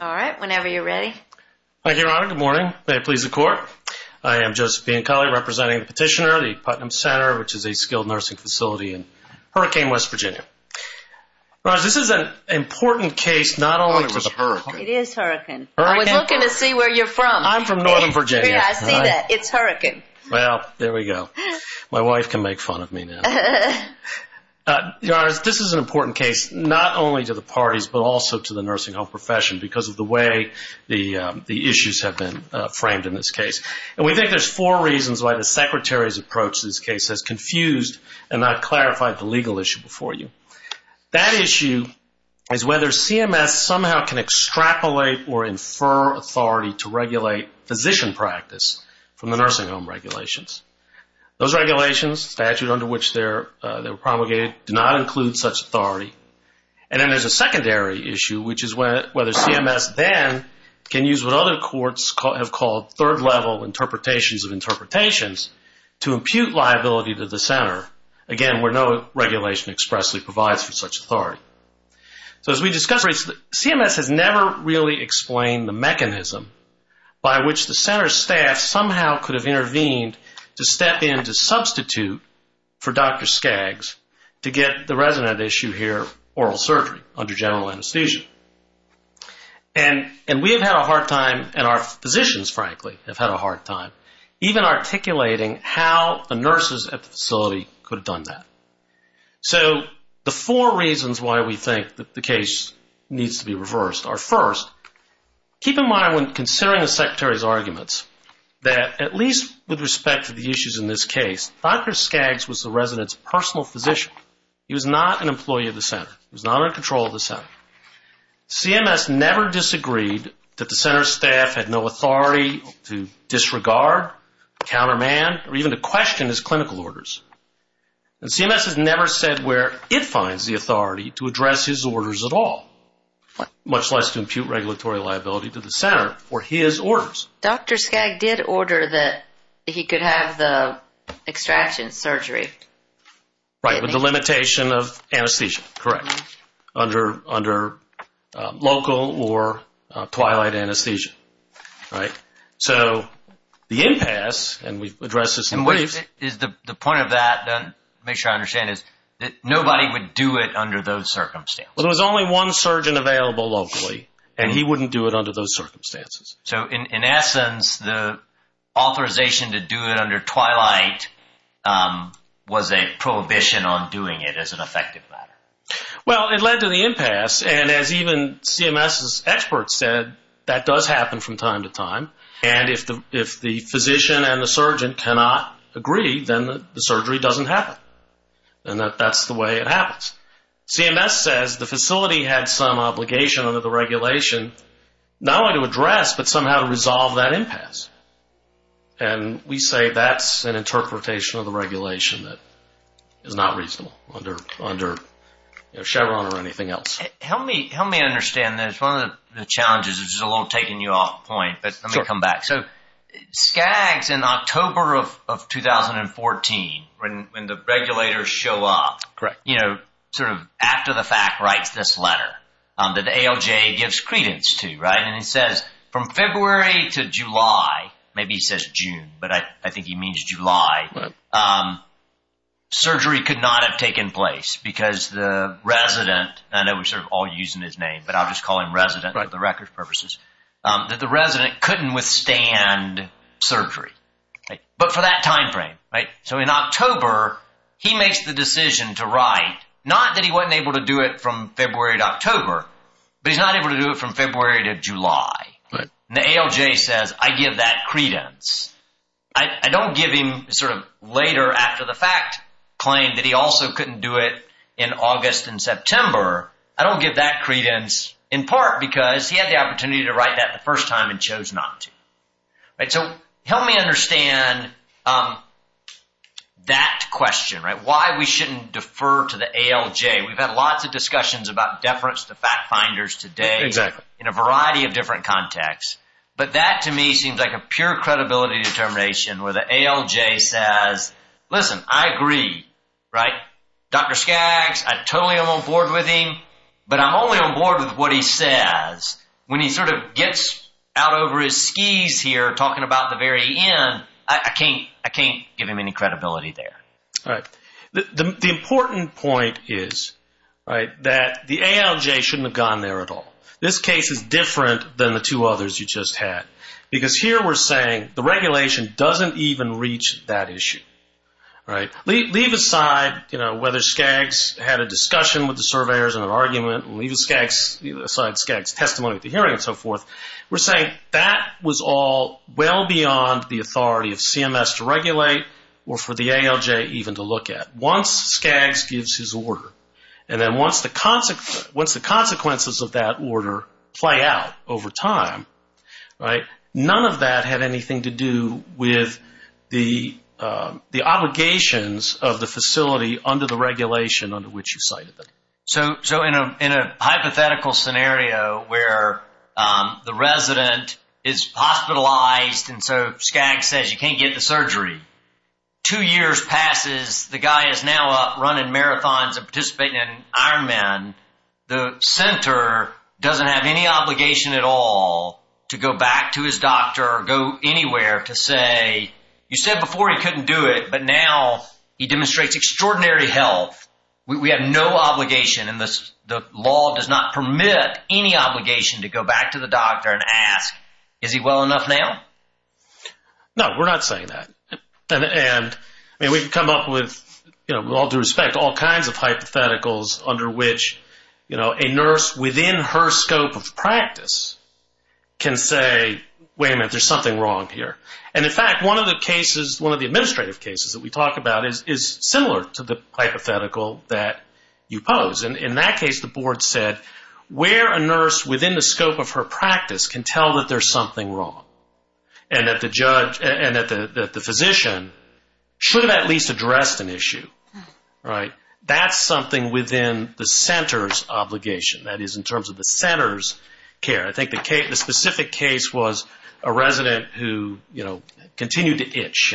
All right, whenever you're ready. Thank you, Your Honor. Good morning. May it please the Court. I am Joseph Biancolli representing the petitioner, the Putnam Center, which is a skilled nursing facility in Hurricane West Virginia. Your Honor, this is an important case not only for the hurricane. It is hurricane. I was looking to see where you're from. I'm from Northern Virginia. I see that. It's hurricane. Well, there we go. My wife can make fun of me now. Your Honor, this is an important case not only to the parties but also to the nursing home profession because of the way the issues have been framed in this case. And we think there's four reasons why the Secretary's approach to this case has confused and not clarified the legal issue before you. That issue is whether CMS somehow can extrapolate or infer authority to regulate physician practice from the nursing home regulations. Those regulations, statute under which they were promulgated, do not include such authority. And then there's a secondary issue, which is whether CMS then can use what other courts have called third-level interpretations of interpretations to impute liability to the Center, again, where no regulation expressly provides for such authority. So as we discussed, CMS has never really explained the mechanism by which the Center staff somehow could have intervened to step in to substitute for Dr. Skaggs to get the resident issue here, oral surgery, under general anesthesia. And we have had a hard time, and our physicians, frankly, have had a hard time, even articulating how the nurses at the facility could have done that. So the four reasons why we think that the case needs to be reversed are, first, keep in mind when considering the Secretary's arguments that, at least with respect to the issues in this case, Dr. Skaggs was the resident's personal physician. He was not an employee of the Center. He was not in control of the Center. CMS never disagreed that the Center staff had no authority to disregard, counterman, or even to question his clinical orders. And CMS has never said where it finds the authority to address his orders at all, much less to the Center for his orders. Dr. Skaggs did order that he could have the extraction surgery. Right, with the limitation of anesthesia, correct, under local or twilight anesthesia. So the impasse, and we've addressed this in the briefs. The point of that, to make sure I understand, is that nobody would do it under those circumstances. There was only one surgeon available locally, and he wouldn't do it under those circumstances. So in essence, the authorization to do it under twilight was a prohibition on doing it as an effective matter. Well, it led to the impasse, and as even CMS's experts said, that does happen from time to time, and if the physician and the surgeon cannot agree, then the surgery doesn't happen. And that's the way it happens. CMS says the facility had some obligation under the regulation, not only to address, but somehow to resolve that impasse. And we say that's an interpretation of the regulation that is not reasonable under Chevron or anything else. Help me understand this. One of the challenges, which is a little taking you off point, but the regulators show up after the fact, writes this letter that ALJ gives credence to, and he says from February to July, maybe he says June, but I think he means July, surgery could not have taken place because the resident, and I know we're all using his name, but I'll just call him resident for the record's purposes, that the resident couldn't withstand surgery, but for that time frame. So in October, he makes the decision to write, not that he wasn't able to do it from February to October, but he's not able to do it from February to July, and the ALJ says, I give that credence. I don't give him sort of later after the fact claim that he also couldn't do it in August and September, I don't give that credence in part because he had the opportunity to write that the first time and chose not to. So help me understand that question, why we shouldn't defer to the ALJ, we've had lots of discussions about deference to fact finders today in a variety of different contexts, but that to me seems like a pure credibility determination where the ALJ says, listen, I agree, Dr. Skaggs, I totally am on board with him, but I'm only on board with what he says. When he sort of gets out over his skis here talking about the very end, I can't give him any credibility there. The important point is that the ALJ shouldn't have gone there at all. This case is different than the two others you just had, because here we're saying the regulation doesn't even reach that issue. Leave aside whether Skaggs had a discussion with the surveyors and an argument, leave aside Skaggs testimony at the hearing and so forth, we're saying that was all well beyond the authority of CMS to regulate or for the ALJ even to look at. Once Skaggs gives his order, and then once the consequences of that order play out over time, none of that had anything to do with the obligations of the facility under the regulation under which you cited them. So in a hypothetical scenario where the resident is hospitalized and so Skaggs says you can't get the surgery, two years passes, the guy is now up running marathons and participating in Ironman, the center doesn't have any obligation at all to go back to his doctor or go anywhere to say, you said before he couldn't do it, but now he demonstrates extraordinary health. We have no obligation and the law does not permit any obligation to go back to the doctor and ask, is he well enough now? No, we're not saying that. We've come up with, with all due respect, all kinds of hypotheticals under which a nurse within her scope of practice can say, wait a minute, there's something wrong here. In fact, one of the cases, one of the administrative cases that we talk about is similar to the hypothetical that you pose. In that case, the board said, where a nurse within the scope of her practice can tell that there's something wrong and that the physician should have at least addressed an issue. That's something within the center's obligation, that is in terms of the center's care. I think the specific case was a resident who continued to itch,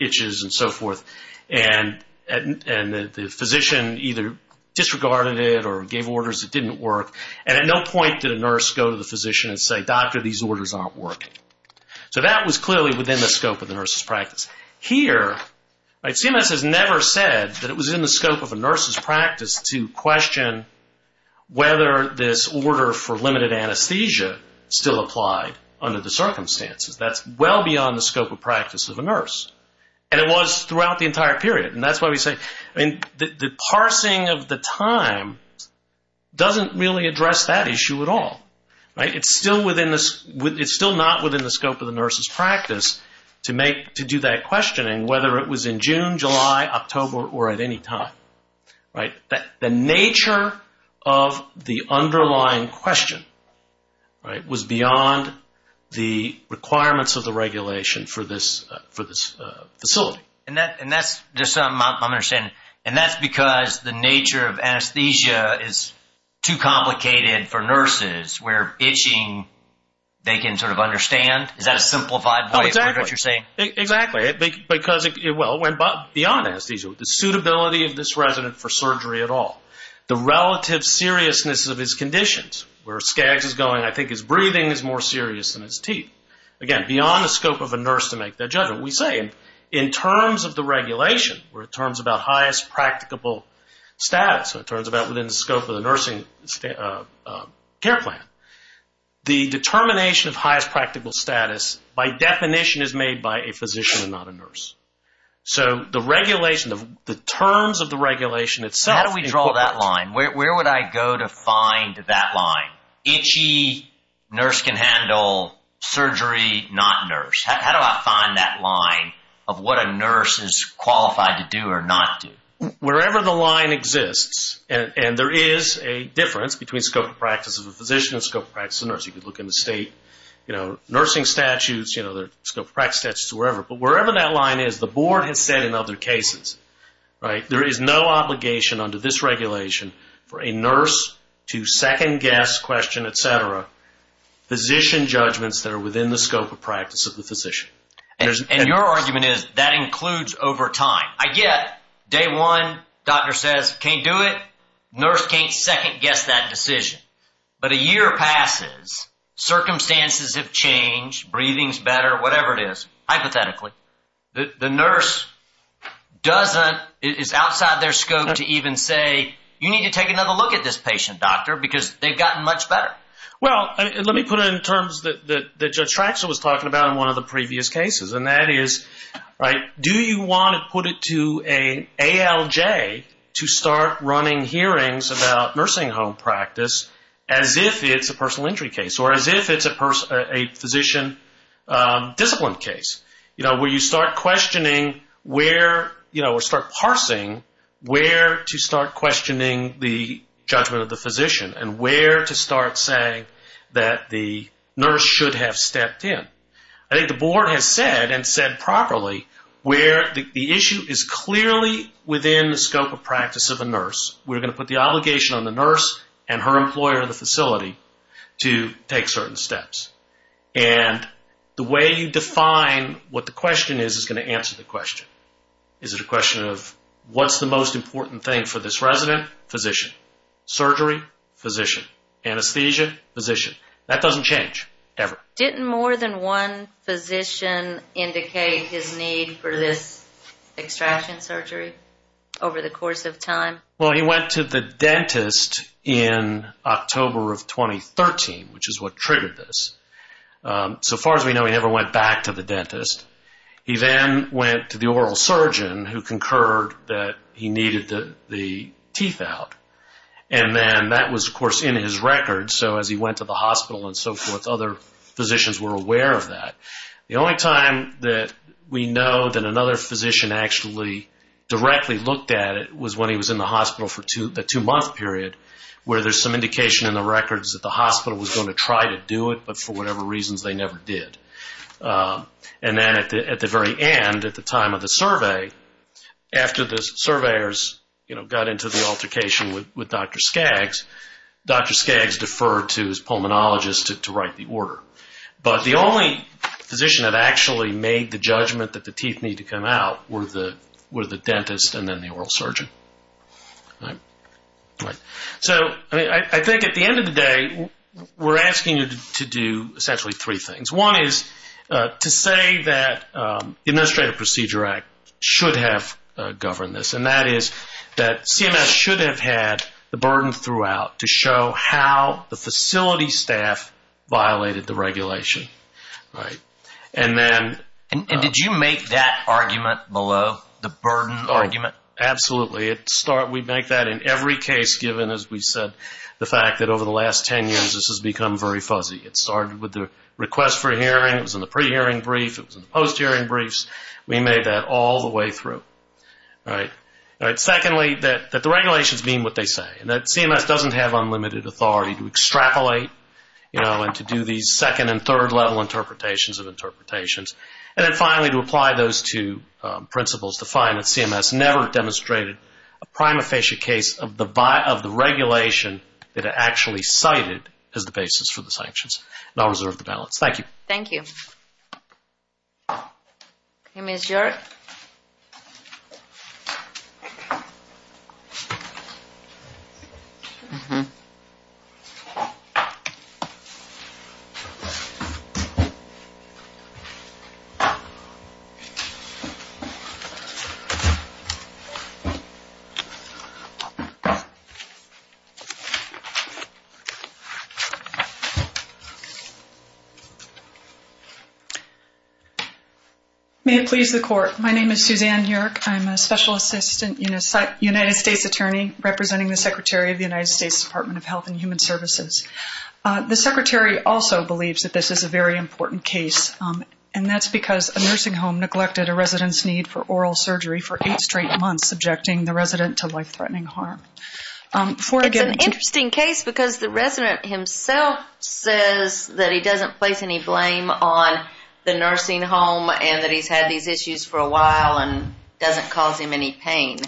itches and so forth, and the physician either disregarded it or gave orders that didn't work. At no point did a nurse go to the physician and say, doctor, these orders aren't working. That was clearly within the scope of the nurse's practice. Here, CMS has never said that it was in the scope of a nurse's practice to question whether this order for limited anesthesia still applied under the circumstances. That's well beyond the scope of practice of a nurse. It was throughout the entire period. That's why we say the parsing of the time doesn't really address that issue at all. It's still not within the scope of the nurse's practice to do that questioning, whether it was in June, July, October, or at any time. The nature of the underlying question was beyond the requirements of the regulation for this facility. I'm understanding. That's because the nature of anesthesia is too complicated for nurses where itching, they can sort of understand? Is that a simplified way of what you're saying? Exactly. Because beyond anesthesia, the suitability of this resident for surgery at all, the relative seriousness of his conditions, where Skaggs is going, I think his breathing is more serious than his teeth. Again, beyond the scope of a nurse to make that judgment. We say in terms of the regulation, we're in terms of the highest practicable status, it turns out within the scope of the nursing care plan, the determination of highest practical status by definition is made by a physician and not a nurse. The regulation, the terms of the regulation itself... How do we draw that line? Where would I go to find that line? Itchy, nurse can handle, surgery, not nurse. How do I find that line of what a nurse is qualified to do or not do? Wherever the line exists, and there is a difference between scope of practice of a physician and scope of practice of a nurse. You could look in the state nursing statutes, the scope of practice statutes, wherever. Wherever that line is, the board has said in other cases, there is no obligation under this regulation for a nurse to second guess, question, etc., physician judgments that are within the scope of practice of the physician. Your argument is that includes over time. I get day one, doctor says, can't do it, nurse can't second guess that decision. But a year passes, circumstances have changed, breathing is better, whatever it is, hypothetically. The nurse doesn't, is outside their scope to even say, you need to take another look at this patient, doctor, because they've gotten much better. Well, let me put it in terms that Judge Traxler was talking about in one of the previous cases, and that is, do you want to put it to an ALJ to start running hearings about nursing home practice as if it's a personal injury case, or as if it's a physician discipline case? You know, where you start questioning where, you know, or start parsing where to start questioning the judgment of the physician, and where to start saying that the nurse should have stepped in. I think the board has said, and said properly, where the issue is clearly within the scope of practice of a nurse. We're going to put the obligation on the nurse and her employer in the facility to take certain steps. And the way you define what the question is, is going to answer the question. Is it a question of what's the most important thing for this resident? Surgery? Physician. Anesthesia? Physician. That doesn't change, ever. Didn't more than one physician indicate his need for this extraction surgery over the course of time? Well, he went to the dentist in October of 2013, which is what triggered this. So far as we know, he never went back to the dentist. He then went to the oral surgeon who concurred that he needed the teeth out. And then that was, of course, in his record. So as he went to the hospital and so forth, other physicians were aware of that. The only time that we know that another physician actually directly looked at it was when he was in the hospital for the two-month period, where there's some indication in the records that the hospital was going to try to do it, but for whatever reasons, they never did. And then at the very end, at the time of the survey, after the surveyors got into the altercation with Dr. Skaggs, Dr. Skaggs deferred to his pulmonologist to write the order. But the only physician that actually made the judgment that the teeth need to come out were the dentist and then the oral surgeon. So I think at the end of the day, we're asking you to do essentially three things. One is to say that the Administrative Procedure Act should have governed this, and that is that CMS should have had the burden throughout to show how the facility staff violated the regulation. And then... And did you make that argument below, the burden argument? Absolutely. We make that in every case, given, as we said, the fact that over the last 10 years, this has become very fuzzy. It started with the request for hearing, it was in the pre-hearing brief, it was in the post-hearing briefs. We made that all the way through. All right. Secondly, that the regulations mean what they say, and that CMS doesn't have unlimited authority to extrapolate, you know, and to do these second and third level interpretations of interpretations. And then finally, to apply those two principles to find that CMS never demonstrated a prima facie case of the regulation that it actually cited as the basis for the sanctions. And I'll reserve the balance. Thank you. Thank you. Okay, Ms. Jurek? Mm-hmm. May it please the Court. My name is Suzanne Jurek. I'm a Special Assistant United States Attorney representing the Secretary of the United States Department of Health and Human Services. The Secretary also believes that this is a very important case, and that's because a nursing home neglected a resident's need for oral surgery for eight straight months, subjecting the resident to life-threatening harm. It's an interesting case because the resident himself says that he doesn't place any blame on the nursing home and that he's had these issues for a while and doesn't cause him any pain.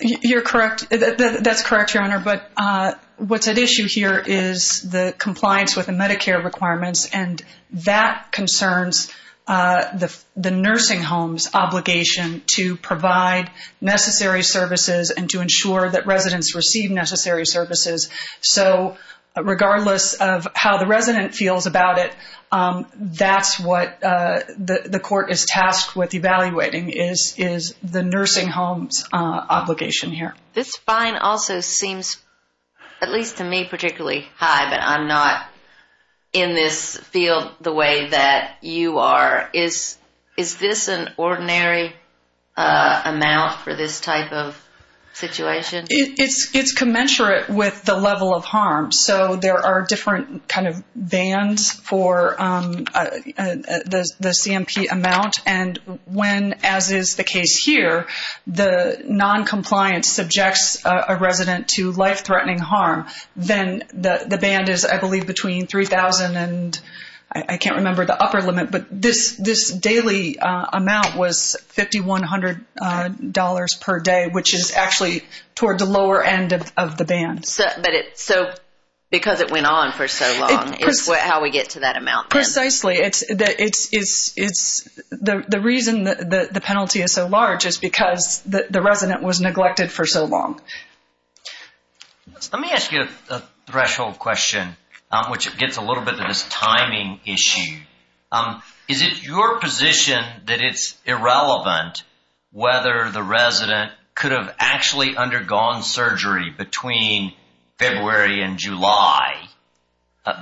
You're correct. That's correct, Your Honor. But what's at issue here is the compliance with the Medicare requirements, and that concerns the nursing home's obligation to provide necessary services and to ensure that residents receive necessary services. So regardless of how the resident feels about it, that's what the Court is tasked with evaluating, is the nursing home's obligation here. This fine also seems, at least to me particularly, high, but I'm not in this field the way that you are. Is this an ordinary amount for this type of situation? It's commensurate with the level of harm. So there are different kind of bands for the CMP amount, and when, as is the case here, the noncompliance subjects a resident to life-threatening harm, then the band is, I believe, between $3,000 and, I can't remember the upper limit, but this daily amount was $5,100 per day, which is actually toward the lower end of the band. So because it went on for so long is how we get to that amount then? Precisely. The reason the penalty is so large is because the resident was neglected for so long. Let me ask you a threshold question, which gets a little bit to this timing issue. Is it your position that it's irrelevant whether the resident could have actually undergone surgery between February and July,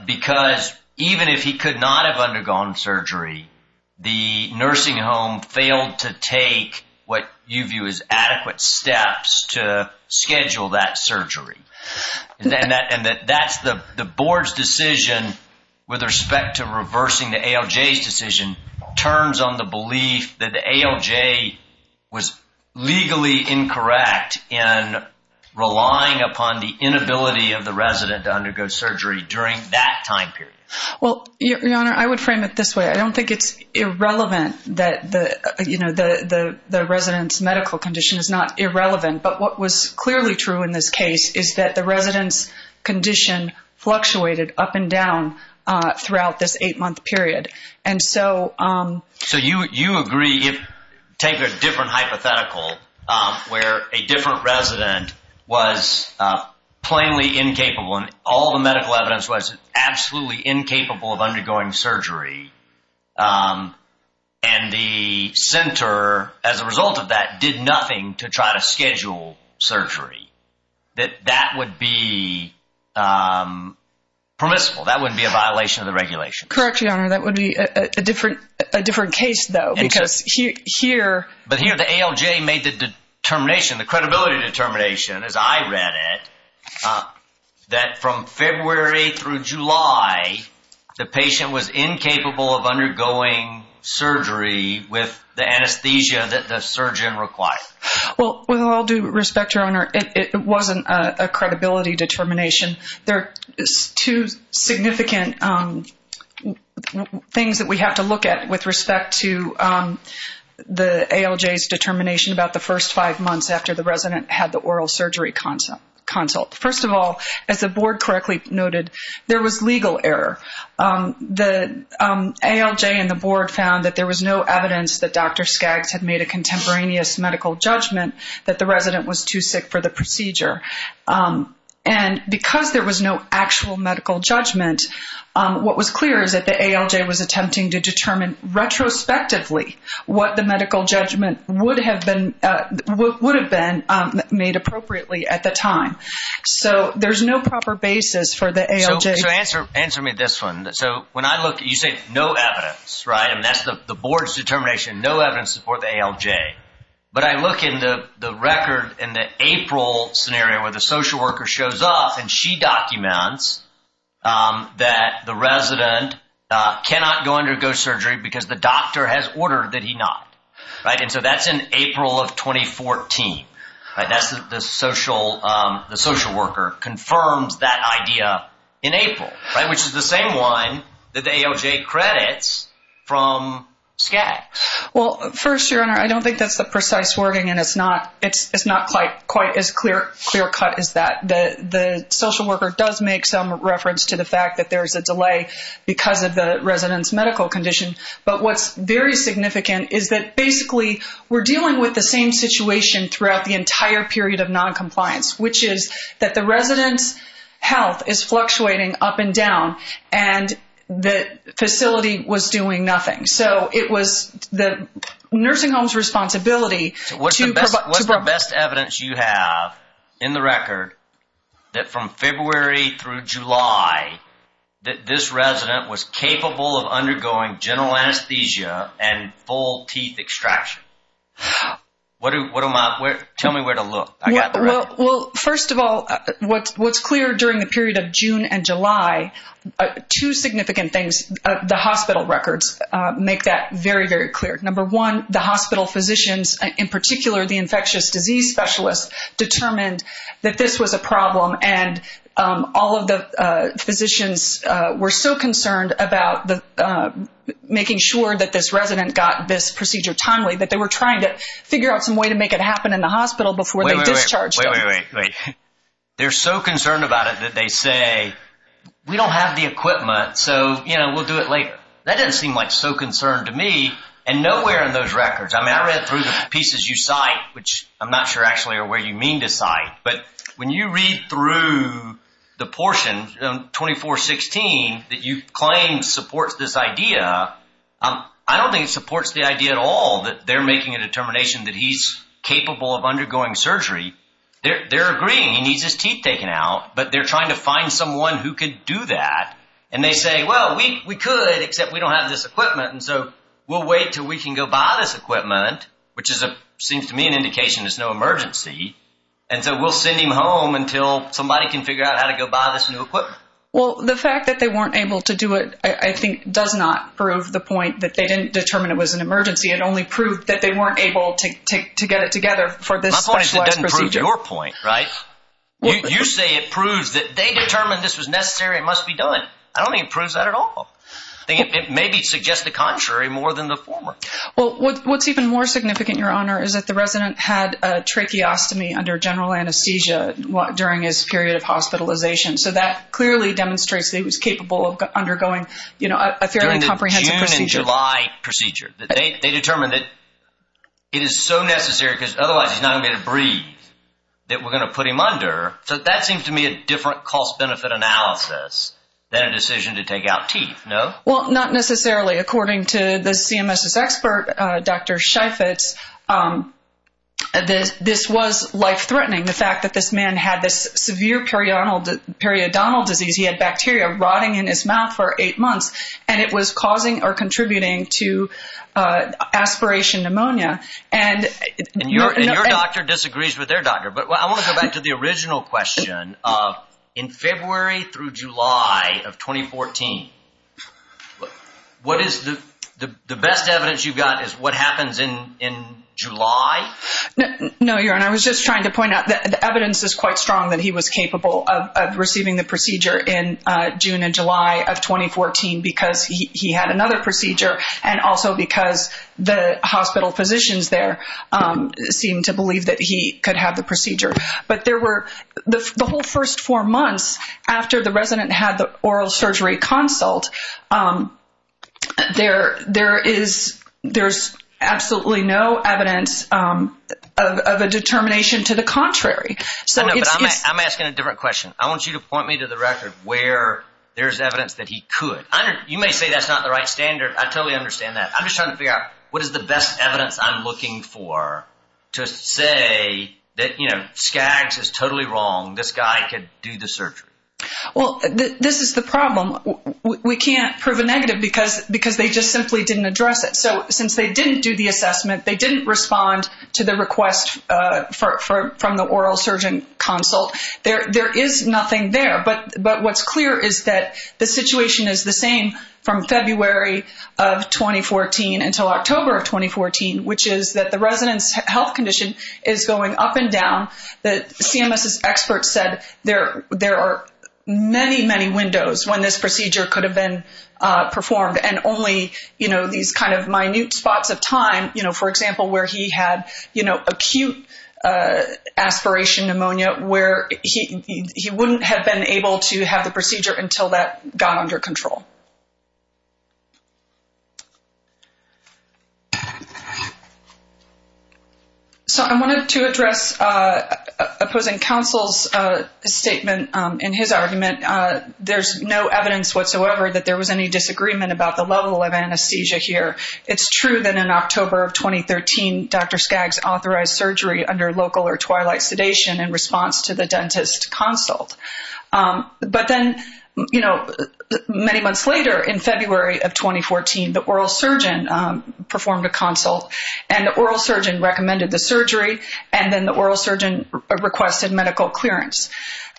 because even if he could not have undergone surgery, the nursing home failed to take what you view as adequate steps to schedule that surgery? And that's the board's decision with respect to reversing the ALJ's decision, turns on the belief that the ALJ was legally incorrect in relying upon the inability of the resident to undergo surgery during that time period. Well, Your Honor, I would frame it this way. I don't think it's irrelevant that the resident's medical condition is not irrelevant, but what was clearly true in this case is that the resident's condition fluctuated up and down throughout this eight-month period. So you agree if, take a different hypothetical where a different resident was plainly incapable, and all the medical evidence was absolutely incapable of undergoing surgery, and the center, as a result of that, did nothing to try to schedule surgery, that that would be permissible. That wouldn't be a violation of the regulation. Correct, Your Honor. That would be a different case, though, because here... But here, the ALJ made the determination, the credibility determination, as I read it, that from February through July, the patient was incapable of undergoing surgery with the anesthesia that the surgeon required. Well, with all due respect, Your Honor, it wasn't a credibility determination. There are two significant things that we have to look at with respect to the ALJ's determination about the first five months after the resident had the oral surgery consult. First of all, as the board correctly noted, there was legal error. The ALJ and the board found that there was no evidence that Dr. Skaggs had made a contemporaneous medical judgment that the resident was too sick for the procedure, and because there was no actual medical judgment, what was clear is that the ALJ was attempting to determine retrospectively what the medical judgment would have been made appropriately at the time. So there's no proper basis for the ALJ... So answer me this one. So when I look, you say no evidence, right? And that's the board's determination, no evidence to support the ALJ. But I look into the record in the April scenario where the social worker shows up and she documents that the resident cannot undergo surgery because the doctor has ordered that he not, right? And so that's in April of 2014, right? That's the social worker confirms that idea in April, right? Which is the same one that the ALJ credits from Skaggs. Well, first your honor, I don't think that's the precise wording and it's not quite as clear cut as that. The social worker does make some reference to the fact that there's a delay because of the resident's medical condition. But what's very significant is that basically we're dealing with the same situation throughout the entire period of non-compliance, which is that the resident's health is fluctuating up and down and the facility was doing nothing. So it was nursing home's responsibility to- What's the best evidence you have in the record that from February through July that this resident was capable of undergoing general anesthesia and full teeth extraction? Tell me where to look. Well, first of all, what's clear during the period of June and July, two significant things, the hospital records make that very, very clear. Number one, the hospital physicians, in particular, the infectious disease specialists determined that this was a problem and all of the physicians were so concerned about making sure that this resident got this procedure timely that they were trying to figure out some way to make it happen in the hospital before they discharged. Wait, wait, wait. They're so concerned about it that they say, we don't have the equipment, so we'll do it later. That didn't seem like so concerned to me and nowhere in those records. I mean, I read through the pieces you cite, which I'm not sure actually are where you mean to cite, but when you read through the portion 2416 that you claim supports this idea, I don't think it supports the idea at all that they're making a determination that he's capable of undergoing surgery. They're agreeing he needs his teeth taken out, but they're trying to find someone who could do that, and they say, well, we could, except we don't have this equipment, and so we'll wait till we can go buy this equipment, which seems to me an indication it's no emergency, and so we'll send him home until somebody can figure out how to go buy this new equipment. Well, the fact that they weren't able to do it, I think, does not prove the point that they didn't determine it was an emergency. It only proved that they weren't able to get it determined this was necessary. It must be done. I don't think it proves that at all. I think it maybe suggests the contrary more than the former. Well, what's even more significant, Your Honor, is that the resident had a tracheostomy under general anesthesia during his period of hospitalization, so that clearly demonstrates that he was capable of undergoing a fairly comprehensive procedure. During the June and July procedure. They determined that it is so necessary because otherwise he's not going to be able to breathe that we're going to put him under, so that seems to me a different cost-benefit analysis than a decision to take out teeth, no? Well, not necessarily. According to the CMS's expert, Dr. Sheifetz, this was life-threatening, the fact that this man had this severe periodontal disease. He had bacteria rotting in his mouth for eight months, and it was causing or contributing to I want to go back to the original question. In February through July of 2014, what is the best evidence you've got is what happens in July? No, Your Honor. I was just trying to point out that the evidence is quite strong that he was capable of receiving the procedure in June and July of 2014 because he had another procedure and also because the hospital physicians there seemed to believe that he could have the procedure. But the whole first four months after the resident had the oral surgery consult, there's absolutely no evidence of a determination to the contrary. I know, but I'm asking a different question. I want you to point me to the record where there's evidence that he could. You may say that's not the right standard. I totally understand that. I'm just trying to figure out what is the best evidence I'm looking for to say that, you know, Skaggs is totally wrong. This guy could do the surgery. Well, this is the problem. We can't prove a negative because they just simply didn't address it. So since they didn't do the assessment, they didn't respond to the request from the oral surgeon consult. There is nothing there, but what's clear is that the situation is the same from February of 2014 until October of 2014, which is that the resident's health condition is going up and down. The CMS's experts said there are many, many windows when this procedure could have been performed and only, you know, these kind of minute spots of time, you know, for example, where he had, you know, acute aspiration pneumonia where he wouldn't have been able to have the procedure until that got under control. So I wanted to address opposing counsel's statement in his argument. There's no evidence whatsoever that there was any disagreement about the level of anesthesia here. It's true that in October of 2013, Dr. Skaggs authorized surgery under local or twilight sedation in response to the dentist consult. But then, you know, many months later in February of 2014, the oral surgeon performed a consult and the oral surgeon recommended the surgery and then the oral surgeon requested medical clearance.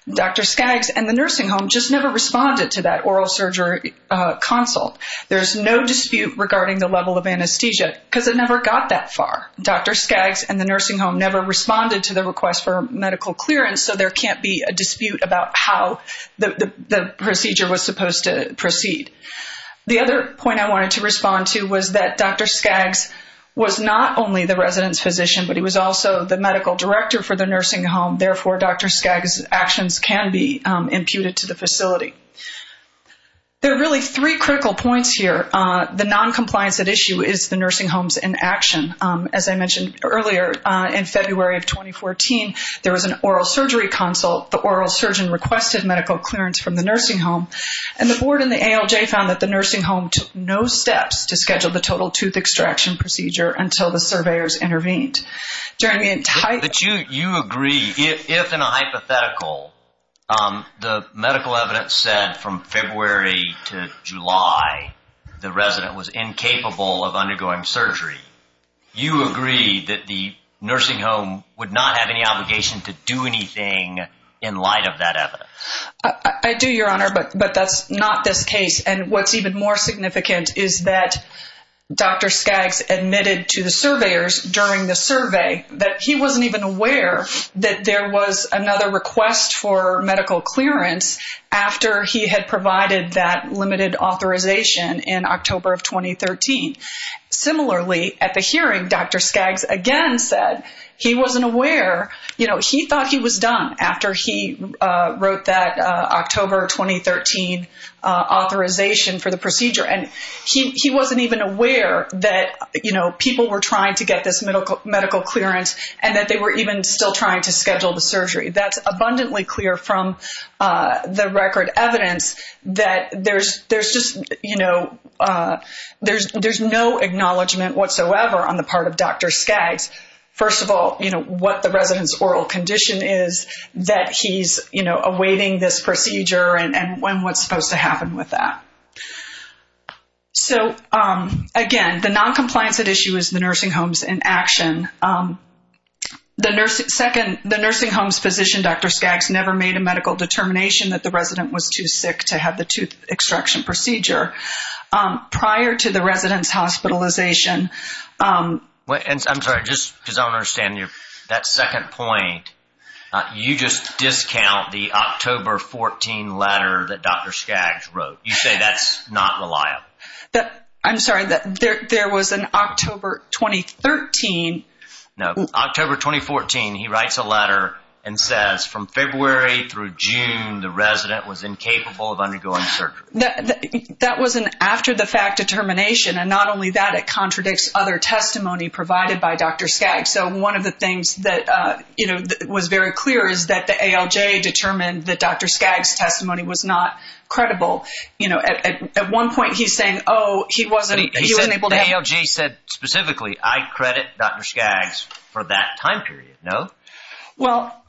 Dr. Skaggs and the nursing home just never responded to that oral surgery consult. There's no dispute regarding the level of anesthesia because it never got that far. Dr. Skaggs and the nursing home never responded to the request for medical clearance, so there can't be a dispute about how the procedure was supposed to proceed. The other point I wanted to respond to was that Dr. Skaggs was not only the resident's physician, but he was also the medical director for the nursing home. Therefore, Dr. Skaggs' actions can be imputed to the facility. There are really three critical points here. The non-compliance at issue is the nursing homes in action. As I mentioned earlier, in February of 2014, there was an oral surgery consult. The oral surgeon requested medical clearance from the nursing home, and the board and the ALJ found that the nursing home took no steps to schedule the total tooth extraction procedure until the surveyors intervened. During the entire... But you agree, if in a hypothetical, the medical evidence said from February to July, the resident was incapable of undergoing surgery, you agree that the nursing home would not have any obligation to do anything in light of that evidence? I do, Your Honor, but that's not this case. What's even more significant is that Dr. Skaggs admitted to the surveyors during the survey that he wasn't even aware that there was another request for medical clearance after he had provided that limited authorization in October of 2013. Similarly, at the hearing, Dr. Skaggs again said he wasn't aware. He thought he was done after he wrote that October 2013 authorization for the procedure. He wasn't even aware that people were trying to get this medical clearance and that they were even still trying to schedule the surgery. That's abundantly clear from the record evidence that there's just no acknowledgement whatsoever on the part of Dr. Skaggs. First of all, what the resident's oral condition is that he's awaiting this procedure and when what's supposed to happen with that. So again, the noncompliance at issue is the nursing home's inaction. The nursing home's physician, Dr. Skaggs, never made a medical determination that the resident was too sick to have the tooth extraction procedure. Prior to the resident's hospitalization... I'm sorry, just because I don't understand that second point, you just discount the October 14 letter that Dr. Skaggs wrote. You say that's not reliable. I'm sorry, there was an October 2013... No, October 2014, he writes a letter and says, from February through June, the resident was incapable of undergoing surgery. That was an after-the-fact determination and not only that, it contradicts other testimony provided by Dr. Skaggs. So one of the things that was very clear is that the ALJ determined that Dr. Skaggs was not able to have... The ALJ said specifically, I credit Dr. Skaggs for that time period, no? Well,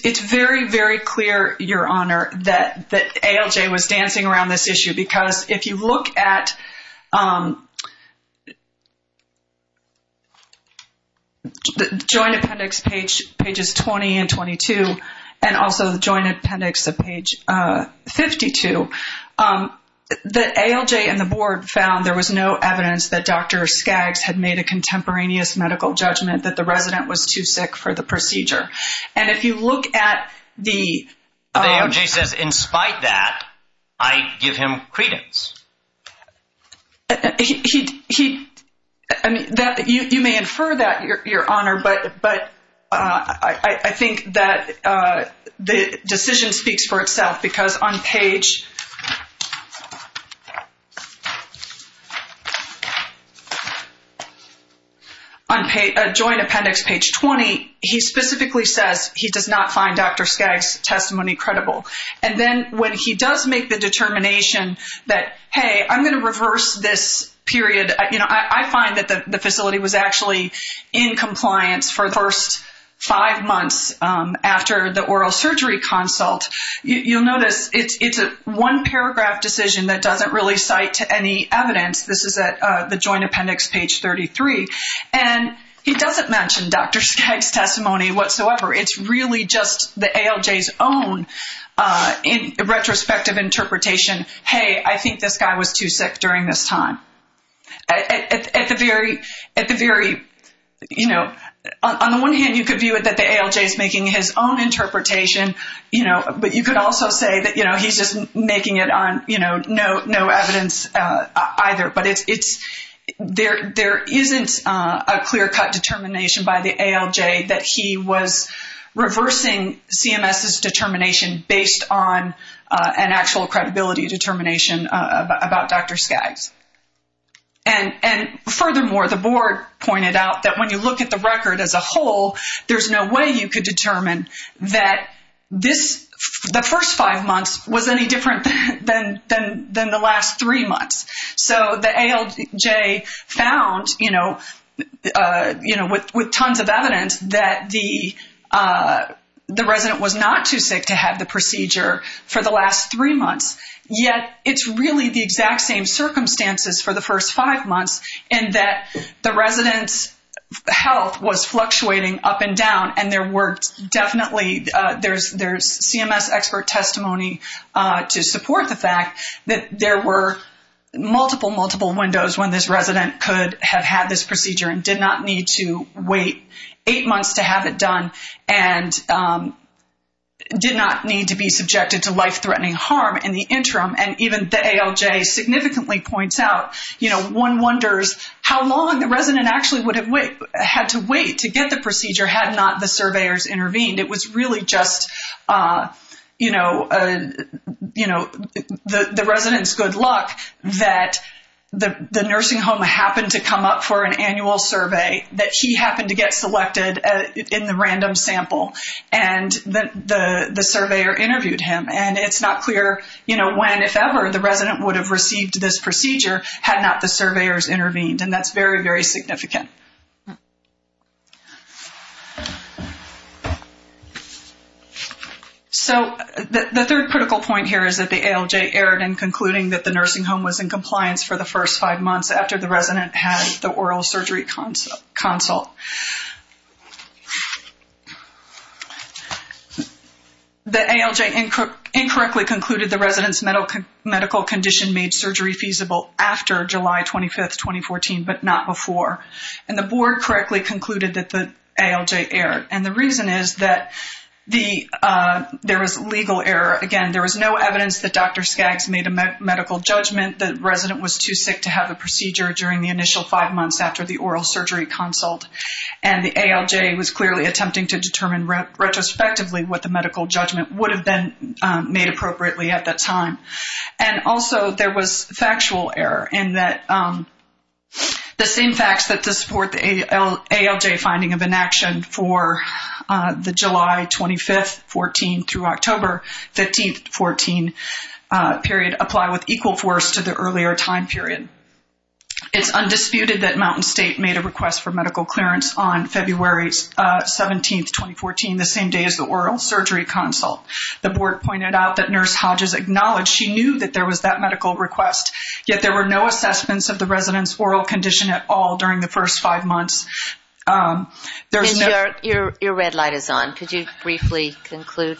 it's very, very clear, Your Honor, that ALJ was dancing around this issue because if you look at the Joint Appendix, pages 20 and 22, and also the Joint Appendix of page 52, the ALJ and the board found there was no evidence that Dr. Skaggs had made a contemporaneous medical judgment that the resident was too sick for the procedure. And if you look at the... But the ALJ says, in spite of that, I give him credence. He... You may infer that, Your Honor, but I think that the decision speaks for itself because on page... Joint Appendix, page 20, he specifically says he does not find Dr. Skaggs' testimony credible. And then when he does make the determination that, hey, I'm going to reverse this period, I find that the facility was actually in compliance for the first five months after the oral surgery consult. You'll notice it's a one-paragraph decision that doesn't really cite to any evidence. This is at the Joint Appendix, page 33. And he doesn't mention Dr. Skaggs' testimony whatsoever. It's really just the ALJ's own retrospective interpretation. Hey, I think this guy was too sick during this time. At the very... On the one hand, you could view it that the ALJ is making his own interpretation, but you could also say that he's making it on no evidence either. But it's... There isn't a clear-cut determination by the ALJ that he was reversing CMS's determination based on an actual credibility determination about Dr. Skaggs. And furthermore, the board pointed out that when you look at the record as a whole, there's no way you could determine that the first five months was any different than the last three months. So the ALJ found with tons of evidence that the resident was not too sick to have the procedure for the last three months, yet it's really the exact same circumstances for the first five months in that the resident's health was fluctuating up and down. And there were definitely... There's CMS expert testimony to support the fact that there were multiple, multiple windows when this resident could have had this procedure and did not need to wait eight months to have it done and did not need to be subjected to life-threatening harm in the interim. And even the ALJ significantly points out, one wonders how long the resident actually would have had to wait to get the procedure had not the surveyors intervened. It was really just the resident's good luck that the nursing home happened to come up for an annual survey, that he happened to get selected in the random sample, and the surveyor interviewed him. And it's not clear when, if ever, the resident would have received this procedure had not the surveyors intervened. And that's very, very significant. So the third critical point here is that the ALJ erred in concluding that the nursing home was in compliance for the first five months after the resident had the oral surgery consult. The ALJ incorrectly concluded the resident's medical condition made surgery feasible after July 25th, 2014, but not before. And the board correctly concluded that the ALJ erred. And the reason is that there was legal error. Again, there was no evidence that Dr. Skaggs made a medical judgment that the resident was too sick to have a procedure during the initial five months and the ALJ was clearly attempting to determine retrospectively what the medical judgment would have been made appropriately at that time. And also there was factual error in that the same facts that support the ALJ finding of inaction for the July 25th, 2014 through October 15th, 2014 period apply with equal force to the earlier time period. It's undisputed that Mountain State made a request for medical clearance on February 17th, 2014, the same day as the oral surgery consult. The board pointed out that Nurse Hodges acknowledged she knew that there was that medical request, yet there were no assessments of the resident's oral condition at all during the first five months. There's no... And your red light is on. Could you briefly conclude?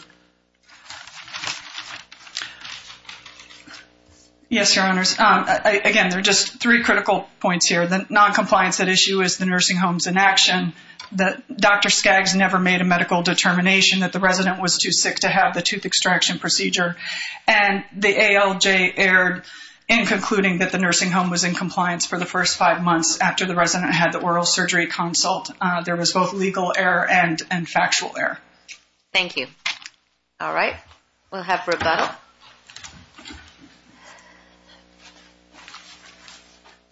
Yes, Your Honors. Again, there are just three critical points here. The noncompliance at issue is the nursing home's inaction, that Dr. Skaggs never made a medical determination that the resident was too sick to have the tooth extraction procedure, and the ALJ erred in concluding that the nursing home was in compliance for the first five months after the resident had the oral surgery consult. There was both legal error and factual error. Thank you. All right. We'll have rebuttal.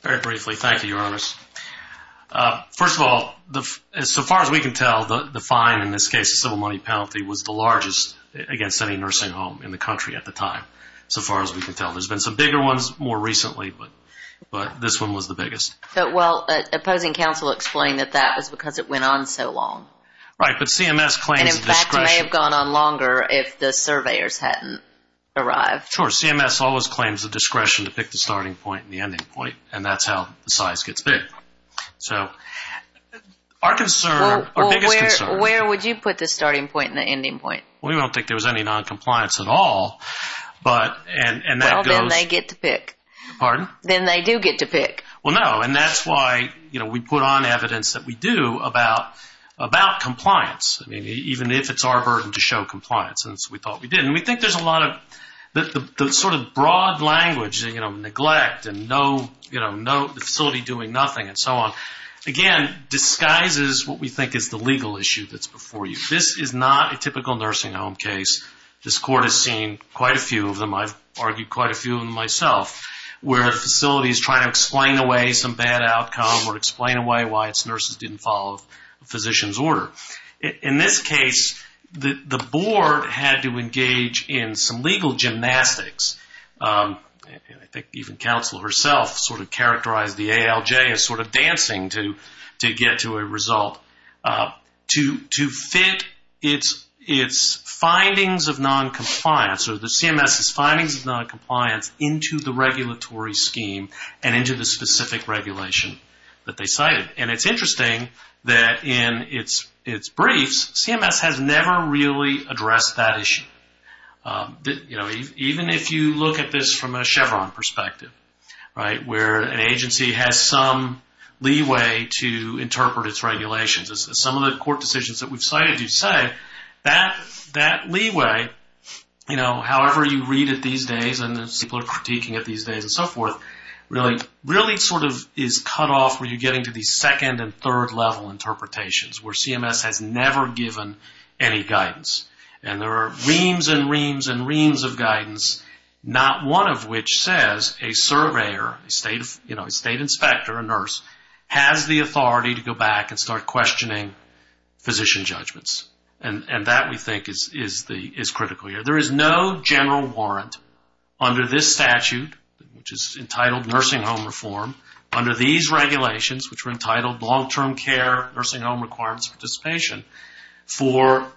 Very briefly, thank you, Your Honors. First of all, so far as we can tell, the fine in this case, the civil money penalty, was the largest against any nursing home in the country at the time, so far as we can tell. There's been some bigger ones more recently, but this one was the biggest. Well, opposing counsel explained that that was because it went on so long. Right, but CMS claims discretion. And in fact, it may have gone on longer if the surveyors hadn't arrived. Sure. CMS always claims the discretion to pick the starting point and the ending point, and that's how the size gets big. So our concern, our biggest concern... Well, where would you put the starting point and the ending point? Well, we don't think there was any noncompliance at all, but... Well, then they get to pick. Pardon? Then they do get to pick. Well, no, and that's why, you know, we put on evidence that we do about compliance. I mean, even if it's our burden to show compliance, and so we thought we did. And we think there's a lot of... The sort of broad language, you know, neglect and no, you know, the facility doing nothing and so on, again, disguises what we think is the legal issue that's before you. This is not a typical nursing home case. This Court has seen quite a few of them. I've argued quite a few of them myself, where a facility is trying to explain away some bad outcome or explain away why its nurses didn't follow a physician's order. In this case, the Board had to engage in some legal gymnastics. I think even counsel herself sort of characterized the ALJ as sort of dancing to get to a result. To fit its findings of noncompliance, or the CMS's findings of noncompliance, into the regulatory scheme and into the specific regulation that they cited. And it's interesting that in its briefs, CMS has never really addressed that issue. You know, even if you look at this from a Chevron perspective, right, where an agency has some leeway to interpret its regulations. Some of the Court decisions that we've cited do say that. That leeway, you know, however you read it these days and people are critiquing it these days and so forth, really sort of is cut off when you're getting to the second and third level interpretations, where CMS has never given any guidance. And there are reams and reams and reams of guidance, not one of which says a surveyor, you know, a state inspector, a nurse, has the and that we think is critical here. There is no general warrant under this statute, which is entitled Nursing Home Reform, under these regulations, which were entitled Long-Term Care, Nursing Home Requirements and Participation, for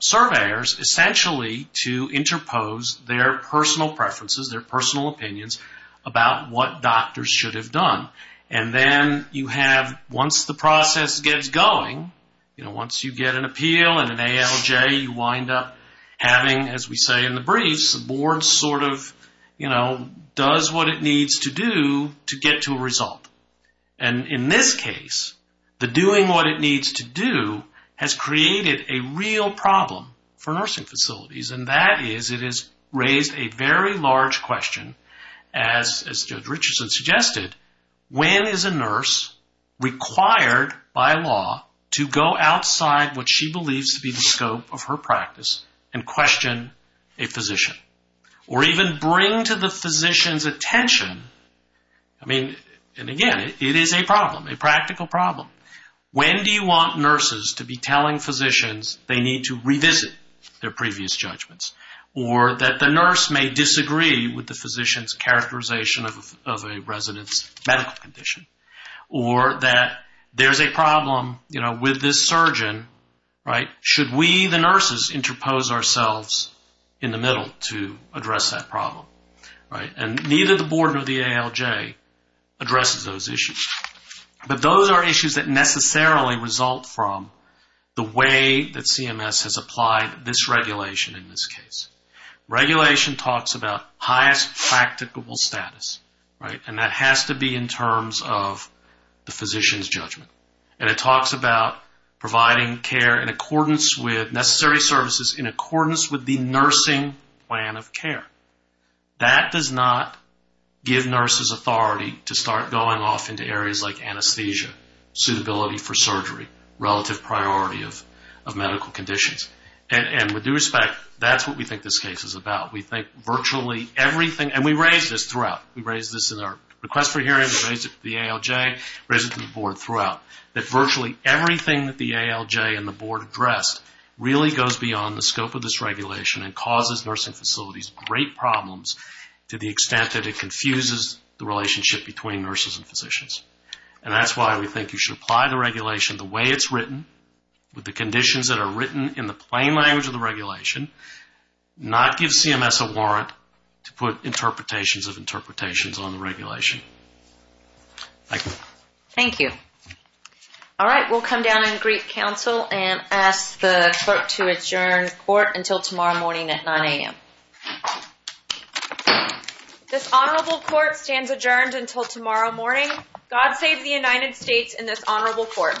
surveyors essentially to interpose their personal preferences, their personal opinions about what doctors should have done. And then you have, once the process gets going, you know, once you get an appeal and an ALJ, you wind up having, as we say in the briefs, the board sort of, you know, does what it needs to do to get to a result. And in this case, the doing what it needs to do has created a real problem for nursing required by law to go outside what she believes to be the scope of her practice and question a physician or even bring to the physician's attention. I mean, and again, it is a problem, a practical problem. When do you want nurses to be telling physicians they need to revisit their previous judgments or that the nurse may disagree with the physician's characterization of a resident's medical condition or that there's a problem, you know, with this surgeon, right? Should we, the nurses, interpose ourselves in the middle to address that problem, right? And neither the board or the ALJ addresses those issues. But those are issues that necessarily result from the way that CMS has applied this regulation in this case. Regulation talks about highest practicable status, right? And that has to be in terms of the physician's judgment. And it talks about providing care in accordance with necessary services in accordance with the nursing plan of care. That does not give nurses authority to start going off into areas like anesthesia, suitability for surgery, relative priority of medical conditions. And with due respect, that's what we think this case is about. We think virtually everything, and we raise this throughout. We raise this in our request for hearings, we raise it to the ALJ, raise it to the board throughout. That virtually everything that the ALJ and the board addressed really goes beyond the scope of this regulation and causes nursing facilities great problems to the extent that it confuses the relationship between nurses and physicians. And that's why we think you should apply the regulation the way it's written, with the conditions that are written in the plain language of the regulation, not give CMS a warrant to put interpretations of interpretations on the regulation. Thank you. Thank you. All right, we'll come down and greet counsel and ask the clerk to adjourn court until tomorrow morning at 9 a.m. This honorable court stands adjourned until tomorrow morning. God save the United States and this honorable court.